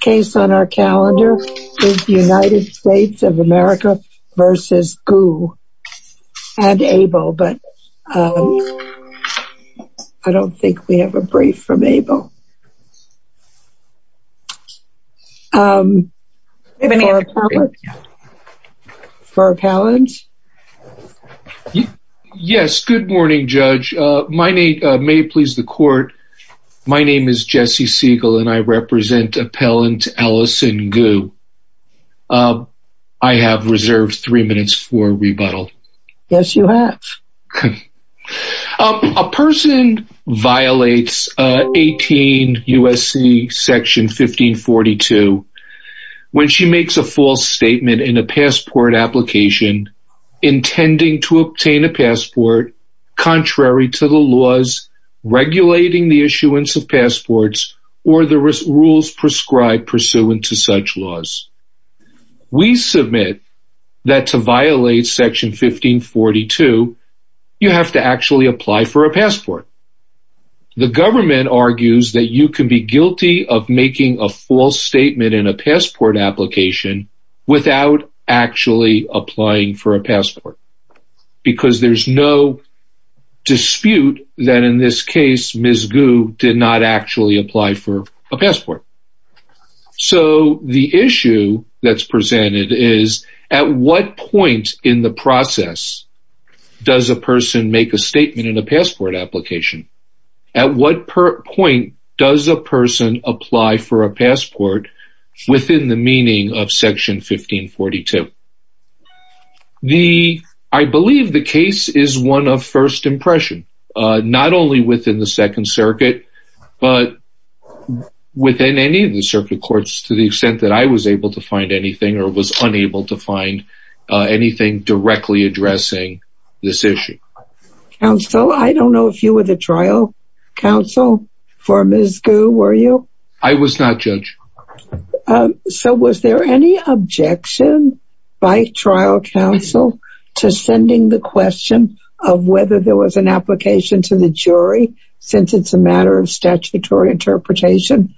Case on our calendar is United States of America v. Gu and Abel but I don't think we have a brief from Abel. For Appellant? Yes, good morning Judge. My name, may it please the court, my name is Jesse Siegel and I represent Appellant Allison Gu. I have reserved three minutes for rebuttal. Yes, you have. A person violates 18 USC section 1542 when she makes a false statement in a passport application intending to obtain a passport contrary to the laws regulating the issuance of passports or the rules prescribed pursuant to such laws. We submit that to violate section 1542 you have to actually apply for a passport. The government argues that you can be guilty of making a false statement in a passport application without actually applying for a passport. Because there's no dispute that in this case Ms. Gu did not actually apply for a passport. So the issue that's presented is at what point in the process does a person make a statement in a passport application? At what point does a person apply for a passport within the meaning of section 1542? I believe the case is one of first impression. Not only within the Second Circuit but within any of the circuit courts to the extent that I was able to find anything or was unable to find anything directly addressing this issue. Counsel, I don't know if you were the trial counsel for Ms. Gu, were you? I was not judge. So was there any objection by trial counsel to sending the question of whether there was an application to the jury since it's a matter of statutory interpretation?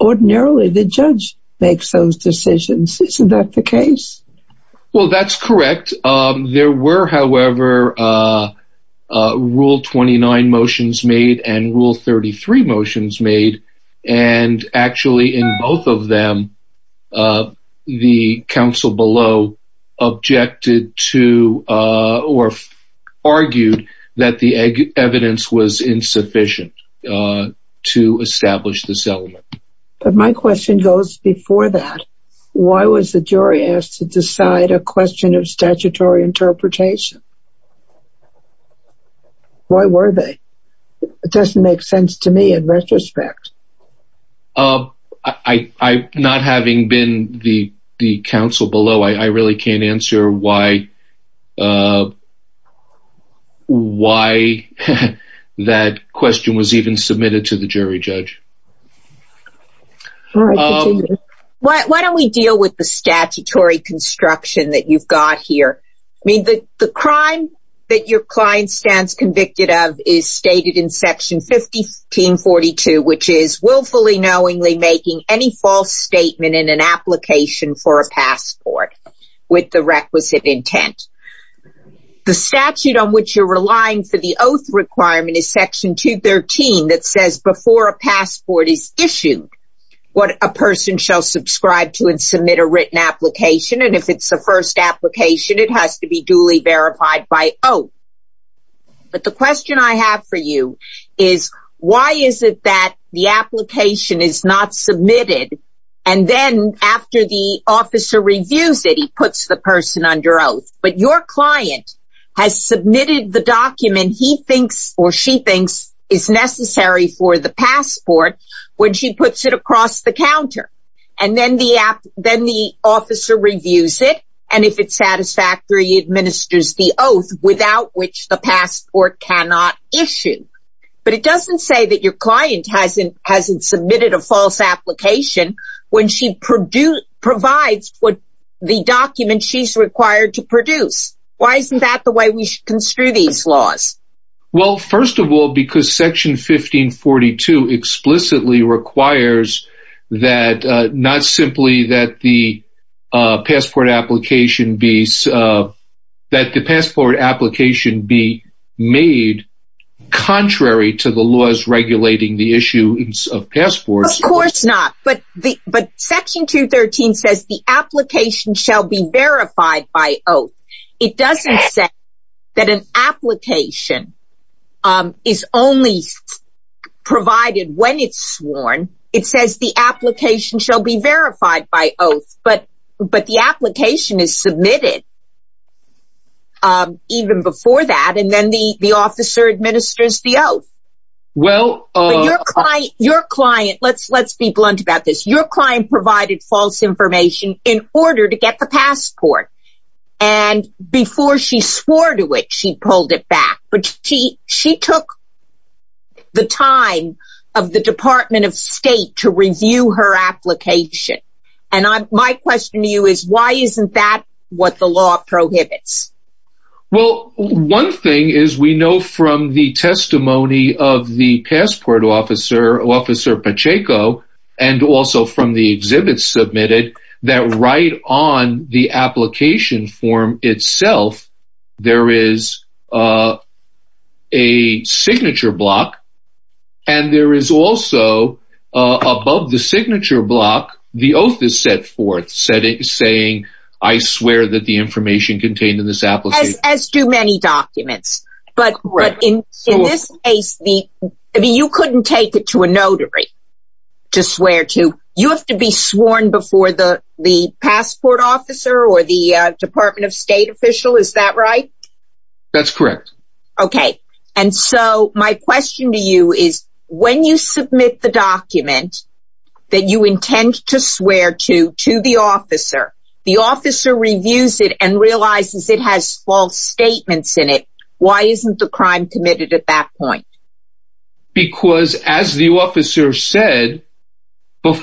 Ordinarily the judge makes those decisions, isn't that the case? Well that's correct. There were however rule 29 motions made and rule 33 motions made and actually in both of them the counsel below objected to or argued that the evidence was insufficient to establish this element. But my question goes before that. Why was the jury asked to decide a question of statutory interpretation? Why were they? It doesn't make sense to me in retrospect. Not having been the counsel below, I really can't answer why that question was even submitted to the jury judge. Why don't we deal with the statutory construction that you've got here. The crime that your client stands convicted of is stated in section 1542 which is willfully knowingly making any false statement in an application for a passport with the requisite intent. The statute on which you're relying for the oath requirement is section 213 that says before a passport is issued what a person shall subscribe to and submit a written application and if it's the first application it has to be duly verified by oath. But the question I have for you is why is it that the application is not submitted and then after the officer reviews it he puts the person under oath. But your client has submitted the document he thinks or she thinks is necessary for the passport when she puts it across the counter. And then the officer reviews it and if it's satisfactory he administers the oath without which the passport cannot issue. But it doesn't say that your client hasn't submitted a false application when she provides the document she's required to produce. Why isn't that the way we should construe these laws? Well first of all because section 1542 explicitly requires that not simply that the passport application be made contrary to the laws regulating the issuance of passports. Of course not but section 213 says the application shall be verified by oath. It doesn't say that an application is only provided when it's sworn. It says the application shall be verified by oath but the application is submitted even before that and then the officer administers the oath. Your client, let's be blunt about this, your client provided false information in order to get the passport and before she swore to it she pulled it back. But she took the time of the Department of State to review her application and my question to you is why isn't that what the law prohibits? Well one thing is we know from the testimony of the passport officer, Officer Pacheco, and also from the exhibits submitted that right on the application form itself there is a signature block and there is also above the signature block the oath is set forth saying I swear that the information contained in this application. As do many documents but in this case you couldn't take it to a notary to swear to. You have to be sworn before the passport officer or the Department of State official is that right? That's correct. Okay and so my question to you is when you submit the document that you intend to swear to to the officer, the officer reviews it and realizes it has false statements in it, why isn't the crime committed at that point? Because as the officer said, we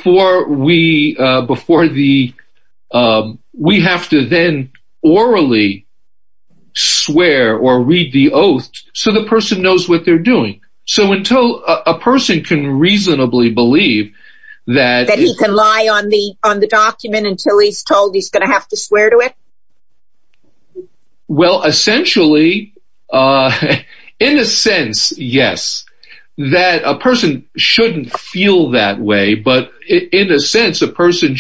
have to then orally swear or read the oath so the person knows what they're doing. So until a person can reasonably believe that... That he can lie on the document until he's told he's going to have to swear to it? Well essentially, in a sense yes, that a person shouldn't feel that way but in a sense a person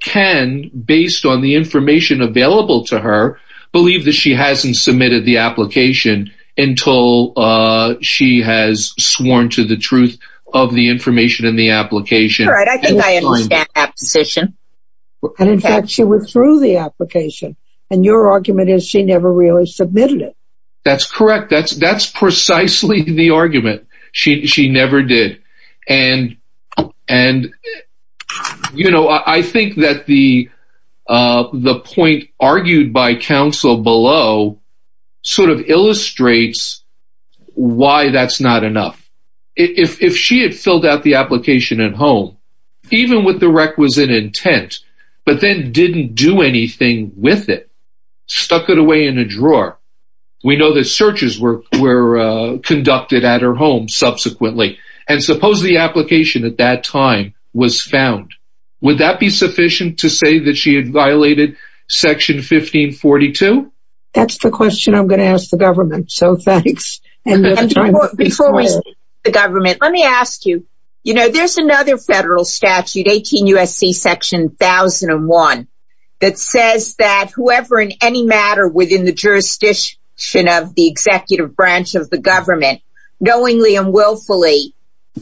can based on the information available to her believe that she hasn't submitted the application until she has sworn to the truth of the information in the application. I think I understand that position. And in fact she withdrew the application and your argument is she never really submitted it. That's correct. That's precisely the argument. She never did. And you know I think that the point argued by counsel below sort of illustrates why that's not enough. If she had filled out the application at home, even with the requisite intent, but then didn't do anything with it, stuck it away in a drawer. We know that searches were conducted at her home subsequently and suppose the application at that time was found. Would that be sufficient to say that she had violated section 1542? That's the question I'm going to ask the government, so thanks. Before we speak to the government, let me ask you. You know there's another federal statute, 18 U.S.C. section 1001, that says that whoever in any matter within the jurisdiction of the executive branch of the government, knowingly and willfully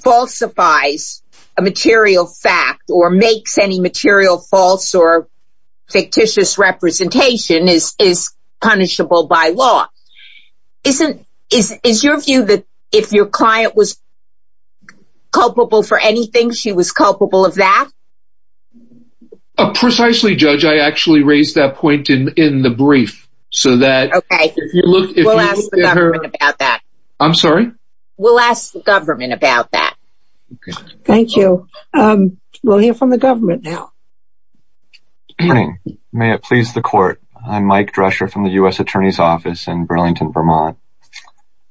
falsifies a material fact or makes any material false or fictitious representation is punishable by law. Is your view that if your client was culpable for anything, she was culpable of that? Precisely, Judge. I actually raised that point in the brief. Okay. We'll ask the government about that. I'm sorry? We'll ask the government about that. Okay. Thank you. We'll hear from the government now. Good morning. May it please the court. I'm Mike Drescher from the U.S. Attorney's Office in Burlington, Vermont.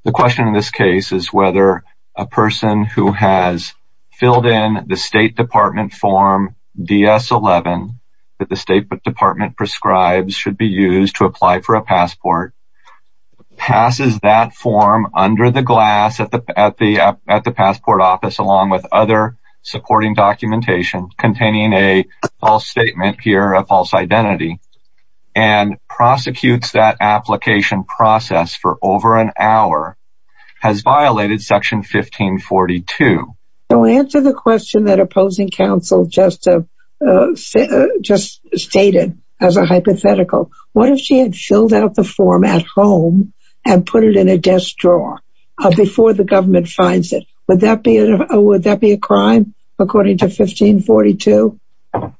The question in this case is whether a person who has filled in the State Department form DS-11 that the State Department prescribes should be used to apply for a passport, passes that form under the glass at the passport office along with other supporting documentation containing a false statement here, a false identity, and prosecutes that application process for over an hour has violated Section 1542. So answer the question that opposing counsel just stated as a hypothetical. What if she had filled out the form at home and put it in a desk drawer before the government finds it? Would that be a crime according to 1542?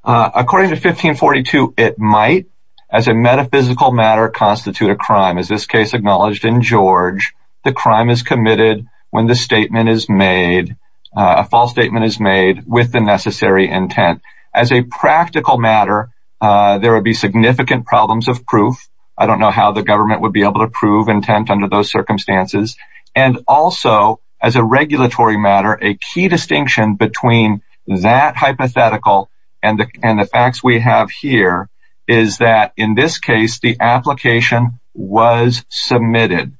According to 1542, it might as a metaphysical matter constitute a crime. As this case acknowledged in George, the crime is committed when the statement is made, a false statement is made with the necessary intent. As a practical matter, there would be significant problems of proof. I don't know how the government would be able to prove intent under those circumstances. And also as a regulatory matter, a key distinction between that hypothetical and the facts we have here is that in this case, the application was submitted.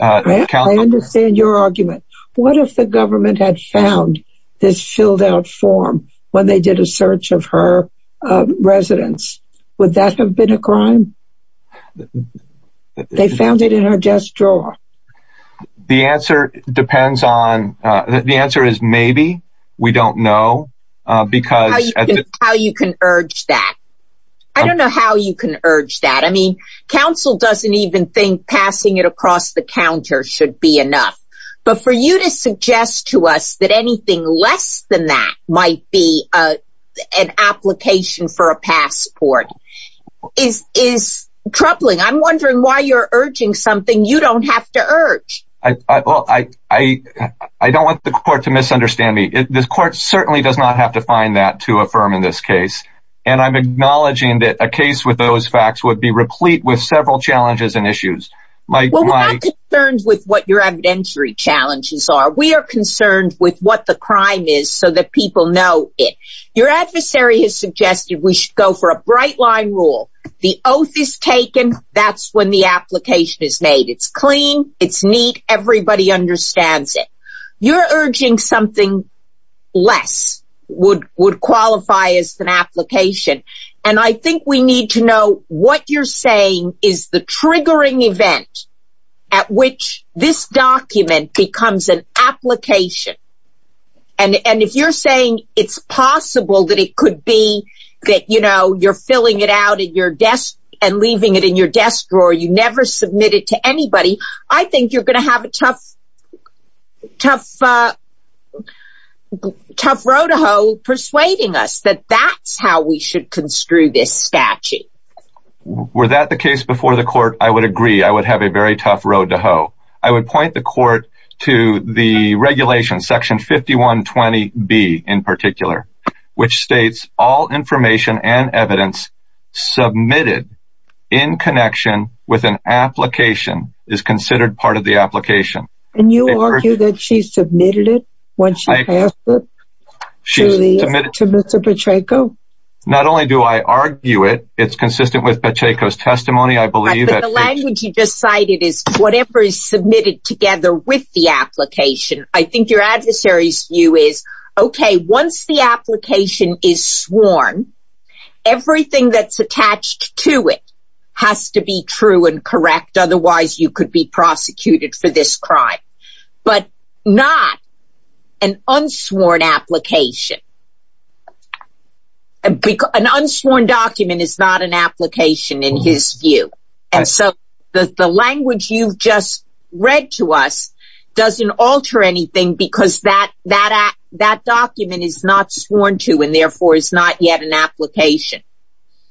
I understand your argument. What if the government had found this filled out form when they did a search of her residence? Would that have been a crime? They found it in her desk drawer. The answer depends on the answer is maybe we don't know because how you can urge that. I don't know how you can urge that. I mean, counsel doesn't even think passing it across the counter should be enough. But for you to suggest to us that anything less than that might be an application for a passport is troubling. I'm wondering why you're urging something. You don't have to urge. I don't want the court to misunderstand me. The court certainly does not have to find that to affirm in this case. And I'm acknowledging that a case with those facts would be replete with several challenges and issues. Well, we're not concerned with what your evidentiary challenges are. We are concerned with what the crime is so that people know it. Your adversary has suggested we should go for a bright line rule. The oath is taken. That's when the application is made. It's clean. It's neat. Everybody understands it. You're urging something less would qualify as an application. And I think we need to know what you're saying is the triggering event at which this document becomes an application. And if you're saying it's possible that it could be that you're filling it out and leaving it in your desk drawer. You never submit it to anybody. I think you're going to have a tough road to hoe persuading us that that's how we should construe this statute. Were that the case before the court, I would agree. I would point the court to the regulation, section 5120B in particular, which states all information and evidence submitted in connection with an application is considered part of the application. And you argue that she submitted it once she passed it to Mr. Pacheco? Not only do I argue it, it's consistent with Pacheco's testimony, I believe. The language you just cited is whatever is submitted together with the application. I think your adversary's view is, okay, once the application is sworn, everything that's attached to it has to be true and correct. Otherwise, you could be prosecuted for this crime. But not an unsworn application. An unsworn document is not an application in his view. And so the language you've just read to us doesn't alter anything because that document is not sworn to and therefore is not yet an application.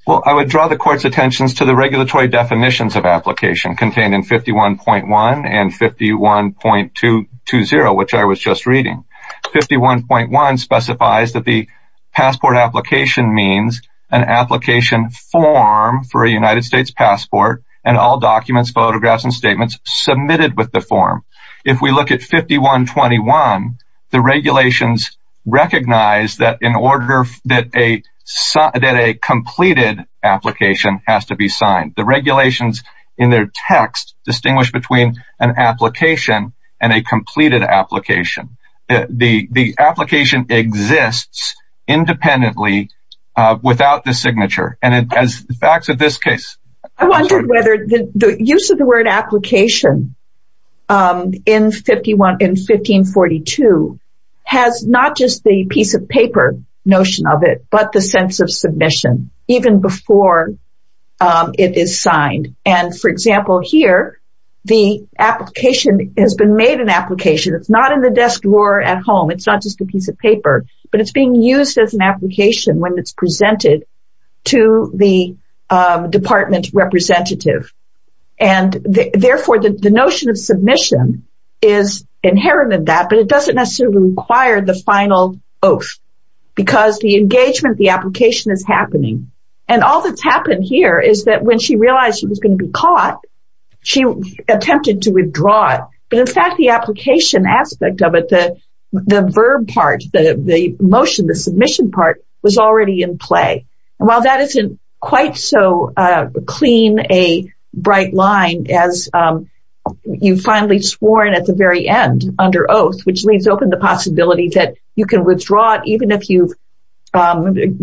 Well, I would draw the court's attention to the regulatory definitions of application contained in 51.1 and 51.220, which I was just reading. 51.1 specifies that the passport application means an application form for a United States passport and all documents, photographs, and statements submitted with the form. If we look at 51.21, the regulations recognize that a completed application has to be signed. The regulations in their text distinguish between an application and a completed application. The application exists independently without the signature. I wonder whether the use of the word application in 1542 has not just the piece of paper notion of it, but the sense of submission, even before it is signed. And, for example, here, the application has been made an application. It's not in the desk drawer at home. It's not just a piece of paper, but it's being used as an application when it's presented to the department representative. And, therefore, the notion of submission is inherent in that, but it doesn't necessarily require the final oath because the engagement, the application is happening. And all that's happened here is that when she realized she was going to be caught, she attempted to withdraw it. But, in fact, the application aspect of it, the verb part, the motion, the submission part was already in play. And while that isn't quite so clean a bright line as you finally sworn at the very end under oath, which leaves open the possibility that you can withdraw it even if you've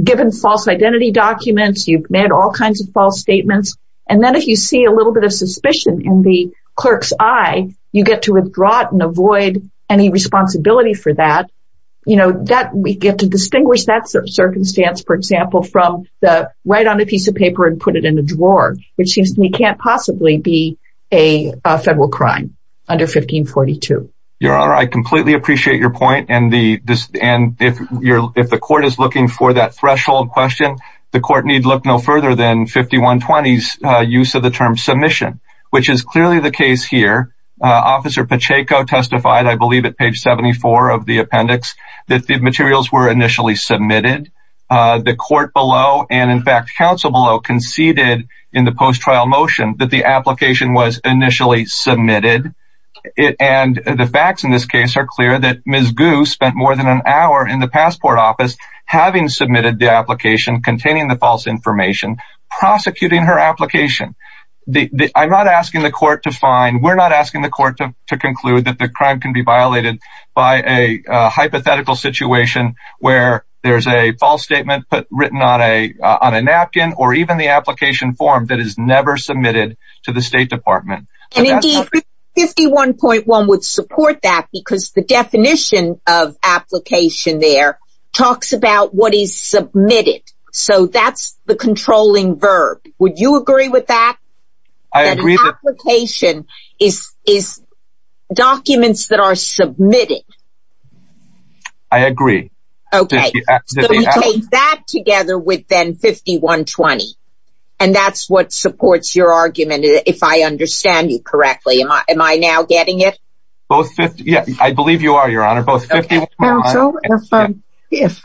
given false identity documents, you've made all kinds of false statements. And then if you see a little bit of suspicion in the clerk's eye, you get to withdraw it and avoid any responsibility for that. You know, we get to distinguish that circumstance, for example, from the write on a piece of paper and put it in a drawer, which seems to me can't possibly be a federal crime under 1542. Your Honor, I completely appreciate your point. And if the court is looking for that threshold question, the court need look no further than 5120's use of the term submission, which is clearly the case here. Officer Pacheco testified, I believe, at page 74 of the appendix that the materials were initially submitted. The court below and, in fact, counsel below conceded in the post-trial motion that the application was initially submitted. And the facts in this case are clear that Ms. Gu spent more than an hour in the passport office having submitted the application containing the false information, prosecuting her application. I'm not asking the court to find, we're not asking the court to conclude that the crime can be violated by a hypothetical situation where there's a false statement written on a napkin or even the application form that is never submitted to the State Department. And indeed, 51.1 would support that because the definition of application there talks about what is submitted. So that's the controlling verb. Would you agree with that? I agree. That an application is documents that are submitted. I agree. Okay. So we take that together with then 51.20. And that's what supports your argument, if I understand you correctly. Am I now getting it? Both, yeah, I believe you are, Your Honor. Counsel, if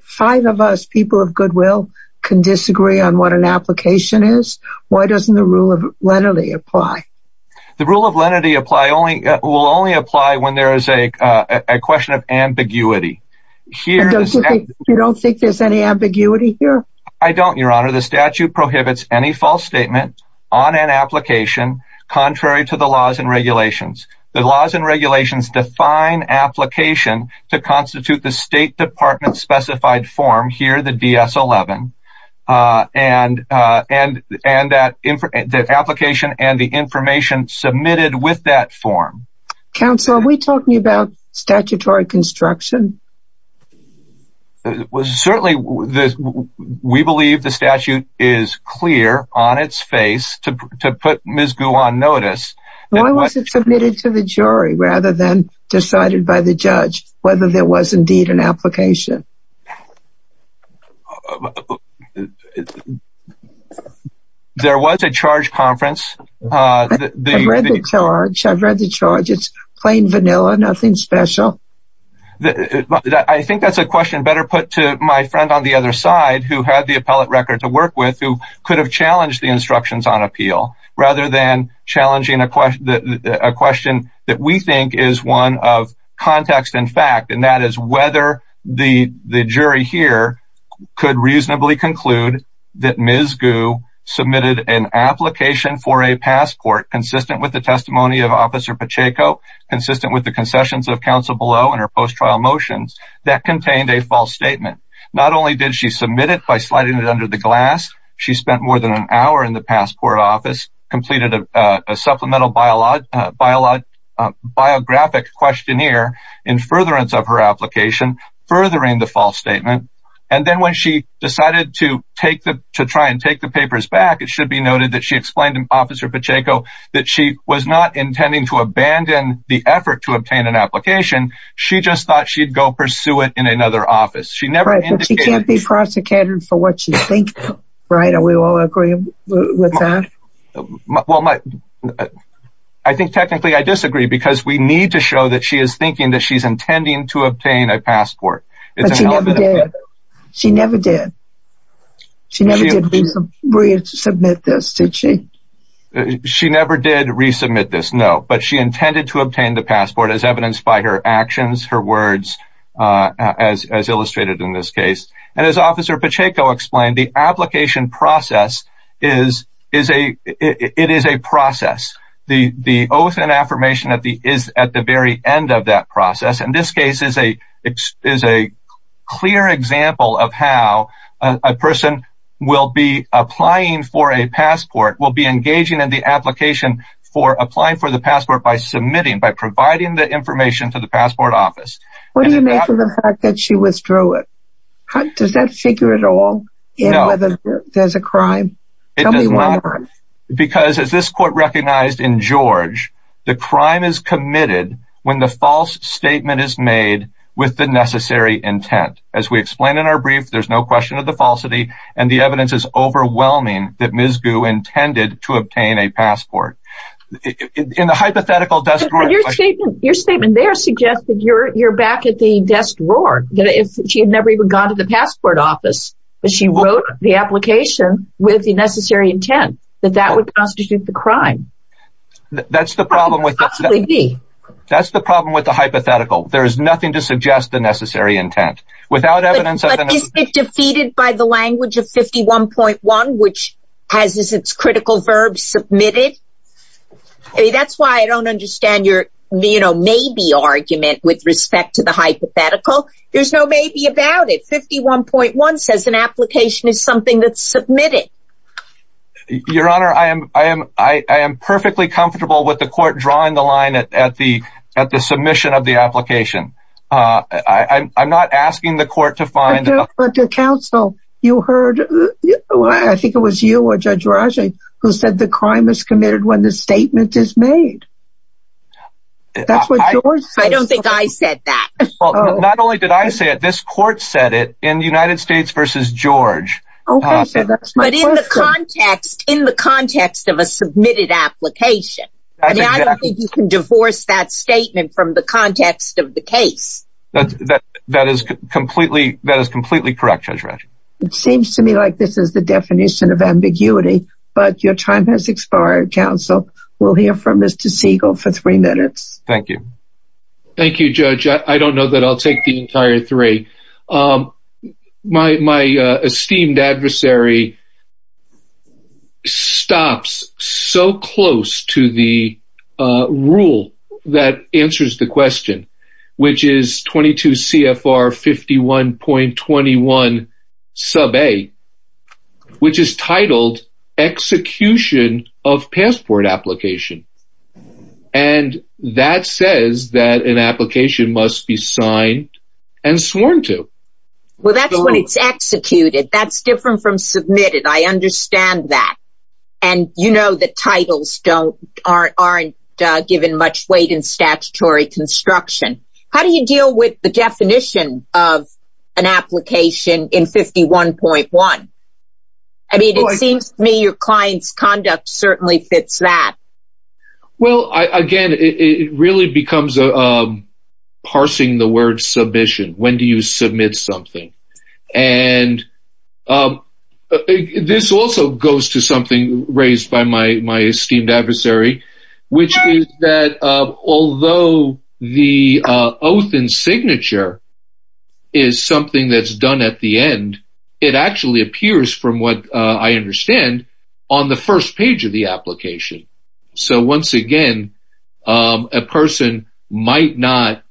five of us people of goodwill can disagree on what an application is, why doesn't the rule of lenity apply? The rule of lenity will only apply when there is a question of ambiguity. You don't think there's any ambiguity here? I don't, Your Honor. The statute prohibits any false statement on an application contrary to the laws and regulations. The laws and regulations define application to constitute the State Department-specified form, here the DS-11, and the application and the information submitted with that form. Counsel, are we talking about statutory construction? Certainly, we believe the statute is clear on its face to put Ms. Gu on notice. Why was it submitted to the jury rather than decided by the judge whether there was indeed an application? There was a charge conference. I've read the charge. It's plain vanilla, nothing special. I think that's a question better put to my friend on the other side, who had the appellate record to work with, who could have challenged the instructions on appeal rather than challenging a question that we think is one of context and fact, and that is whether the jury here could reasonably conclude that Ms. Gu submitted an application for a passport consistent with the testimony of Officer Pacheco, consistent with the concessions of counsel below and her post-trial motions, that contained a false statement. Not only did she submit it by sliding it under the glass, she spent more than an hour in the passport office, completed a supplemental biographic questionnaire in furtherance of her application, furthering the false statement, and then when she decided to try and take the papers back, it should be noted that she explained to Officer Pacheco that she was not intending to abandon the effort to obtain an application. She just thought she'd go pursue it in another office. Right, but she can't be prosecuted for what she thinks, right? Are we all agreeing with that? Well, I think technically I disagree, because we need to show that she is thinking that she's intending to obtain a passport. But she never did. She never did. She never did resubmit this, did she? She never did resubmit this, no, but she intended to obtain the passport as evidenced by her actions, her words, as illustrated in this case. And as Officer Pacheco explained, the application process is a process. The oath and affirmation is at the very end of that process, and this case is a clear example of how a person will be applying for a passport, will be engaging in the application for applying for the passport by submitting, by providing the information to the passport office. What do you make of the fact that she withdrew it? Does that figure at all in whether there's a crime? It does not, because as this court recognized in George, the crime is committed when the false statement is made with the necessary intent. As we explained in our brief, there's no question of the falsity, and the evidence is overwhelming that Ms. Gu intended to obtain a passport. Your statement there suggests that you're back at the desk roar, that she had never even gone to the passport office, that she wrote the application with the necessary intent, that that would constitute the crime. That's the problem with the hypothetical. There is nothing to suggest the necessary intent. But isn't it defeated by the language of 51.1, which has its critical verbs submitted? That's why I don't understand your maybe argument with respect to the hypothetical. There's no maybe about it. 51.1 says an application is something that's submitted. Your Honor, I am perfectly comfortable with the court drawing the line at the submission of the application. I'm not asking the court to find... Counsel, you heard, I think it was you or Judge Rajai, who said the crime is committed when the statement is made. That's what George says. I don't think I said that. Not only did I say it, this court said it in United States v. George. But in the context of a submitted application. I don't think you can divorce that statement from the context of the case. That is completely correct, Judge Rajai. It seems to me like this is the definition of ambiguity, but your time has expired, Counsel. We'll hear from Mr. Siegel for three minutes. Thank you. Thank you, Judge. I don't know that I'll take the entire three. My esteemed adversary stops so close to the rule that answers the question. Which is 22 CFR 51.21 sub A. Which is titled, execution of passport application. And that says that an application must be signed and sworn to. Well, that's when it's executed. That's different from submitted. I understand that. And you know that titles aren't given much weight in statutory construction. How do you deal with the definition of an application in 51.1? I mean, it seems to me your client's conduct certainly fits that. Well, again, it really becomes parsing the word submission. When do you submit something? And this also goes to something raised by my esteemed adversary. Which is that although the oath and signature is something that's done at the end. It actually appears from what I understand on the first page of the application. So once again, a person might not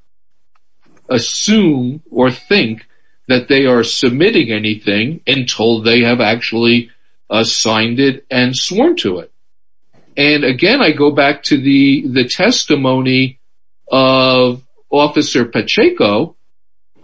assume or think that they are submitting anything. Until they have actually signed it and sworn to it. And again, I go back to the testimony of Officer Pacheco.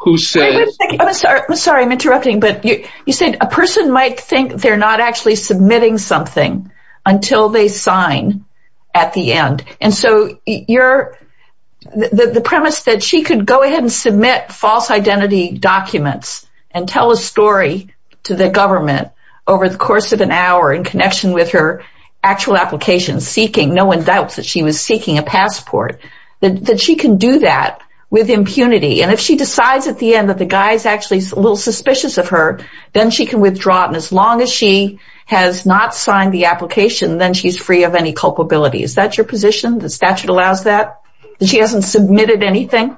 I'm sorry, I'm interrupting. But you said a person might think they're not actually submitting something. Until they sign at the end. And so the premise that she could go ahead and submit false identity documents. And tell a story to the government over the course of an hour. In connection with her actual application seeking. No one doubts that she was seeking a passport. That she can do that with impunity. And if she decides at the end that the guy is actually a little suspicious of her. Then she can withdraw it. And as long as she has not signed the application. Then she's free of any culpability. Is that your position? The statute allows that? That she hasn't submitted anything?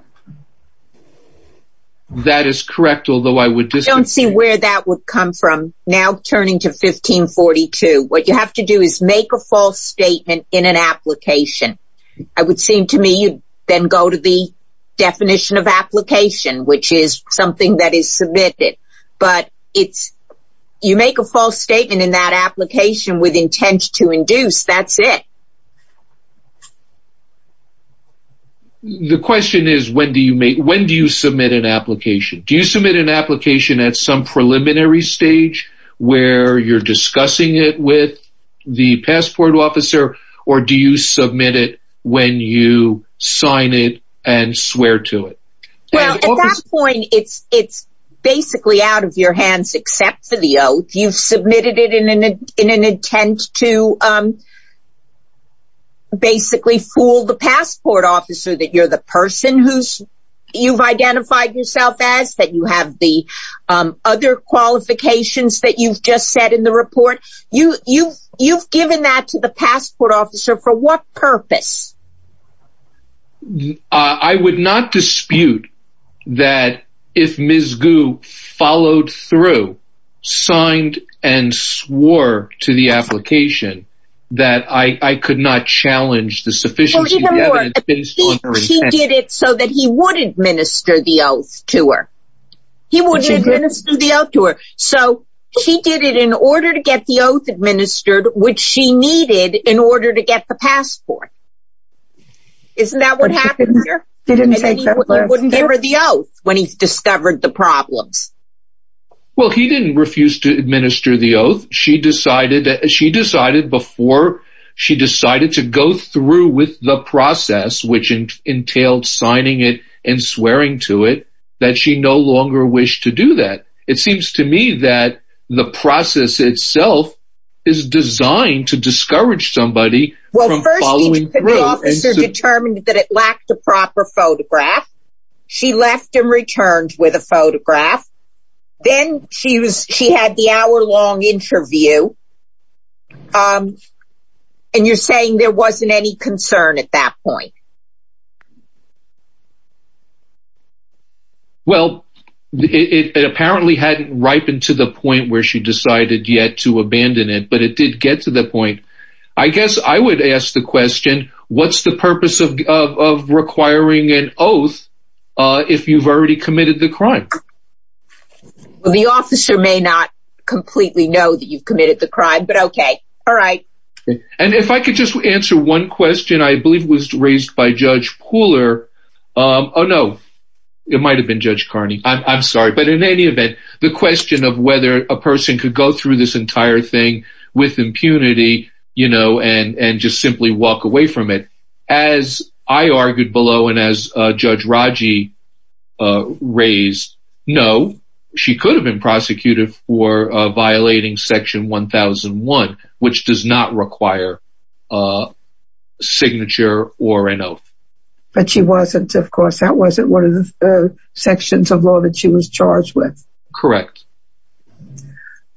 That is correct. Although I would disagree. I don't see where that would come from. Now turning to 1542. What you have to do is make a false statement in an application. It would seem to me you then go to the definition of application. Which is something that is submitted. But you make a false statement in that application with intent to induce. That's it. The question is when do you submit an application? Do you submit an application at some preliminary stage? Where you're discussing it with the passport officer? Or do you submit it when you sign it and swear to it? Well at that point it's basically out of your hands except for the oath. You've submitted it in an intent to basically fool the passport officer. That you're the person who you've identified yourself as. That you have the other qualifications that you've just said in the report. You've given that to the passport officer for what purpose? I would not dispute that if Ms. Gu followed through, signed and swore to the application. That I could not challenge the sufficiency of the evidence based on her intent. She did it so that he would administer the oath to her. He would administer the oath to her. So she did it in order to get the oath administered. Which she needed in order to get the passport. Isn't that what happened here? They were the oath when he discovered the problems. Well he didn't refuse to administer the oath. She decided before she decided to go through with the process. Which entailed signing it and swearing to it. That she no longer wished to do that. It seems to me that the process itself is designed to discourage somebody from following through. Well first the officer determined that it lacked a proper photograph. She left and returned with a photograph. Then she had the hour long interview. And you're saying there wasn't any concern at that point? Well it apparently hadn't ripened to the point where she decided yet to abandon it. But it did get to the point. I guess I would ask the question. What's the purpose of requiring an oath if you've already committed the crime? Well the officer may not completely know that you've committed the crime. But okay. Alright. And if I could just answer one question. I believe it was raised by Judge Pooler. Oh no. It might have been Judge Carney. I'm sorry. But in any event. The question of whether a person could go through this entire thing with impunity. You know and just simply walk away from it. As I argued below and as Judge Raji raised. No. She could have been prosecuted for violating section 1001. Which does not require a signature or an oath. But she wasn't of course. That wasn't one of the sections of law that she was charged with. Correct.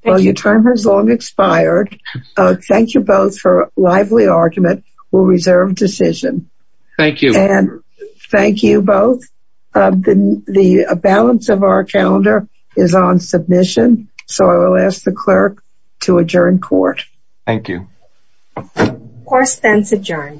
Well your term has long expired. Thank you both for a lively argument. We'll reserve decision. Thank you. Thank you both. The balance of our calendar is on submission. So I will ask the clerk to adjourn court. Thank you. Course then is adjourned.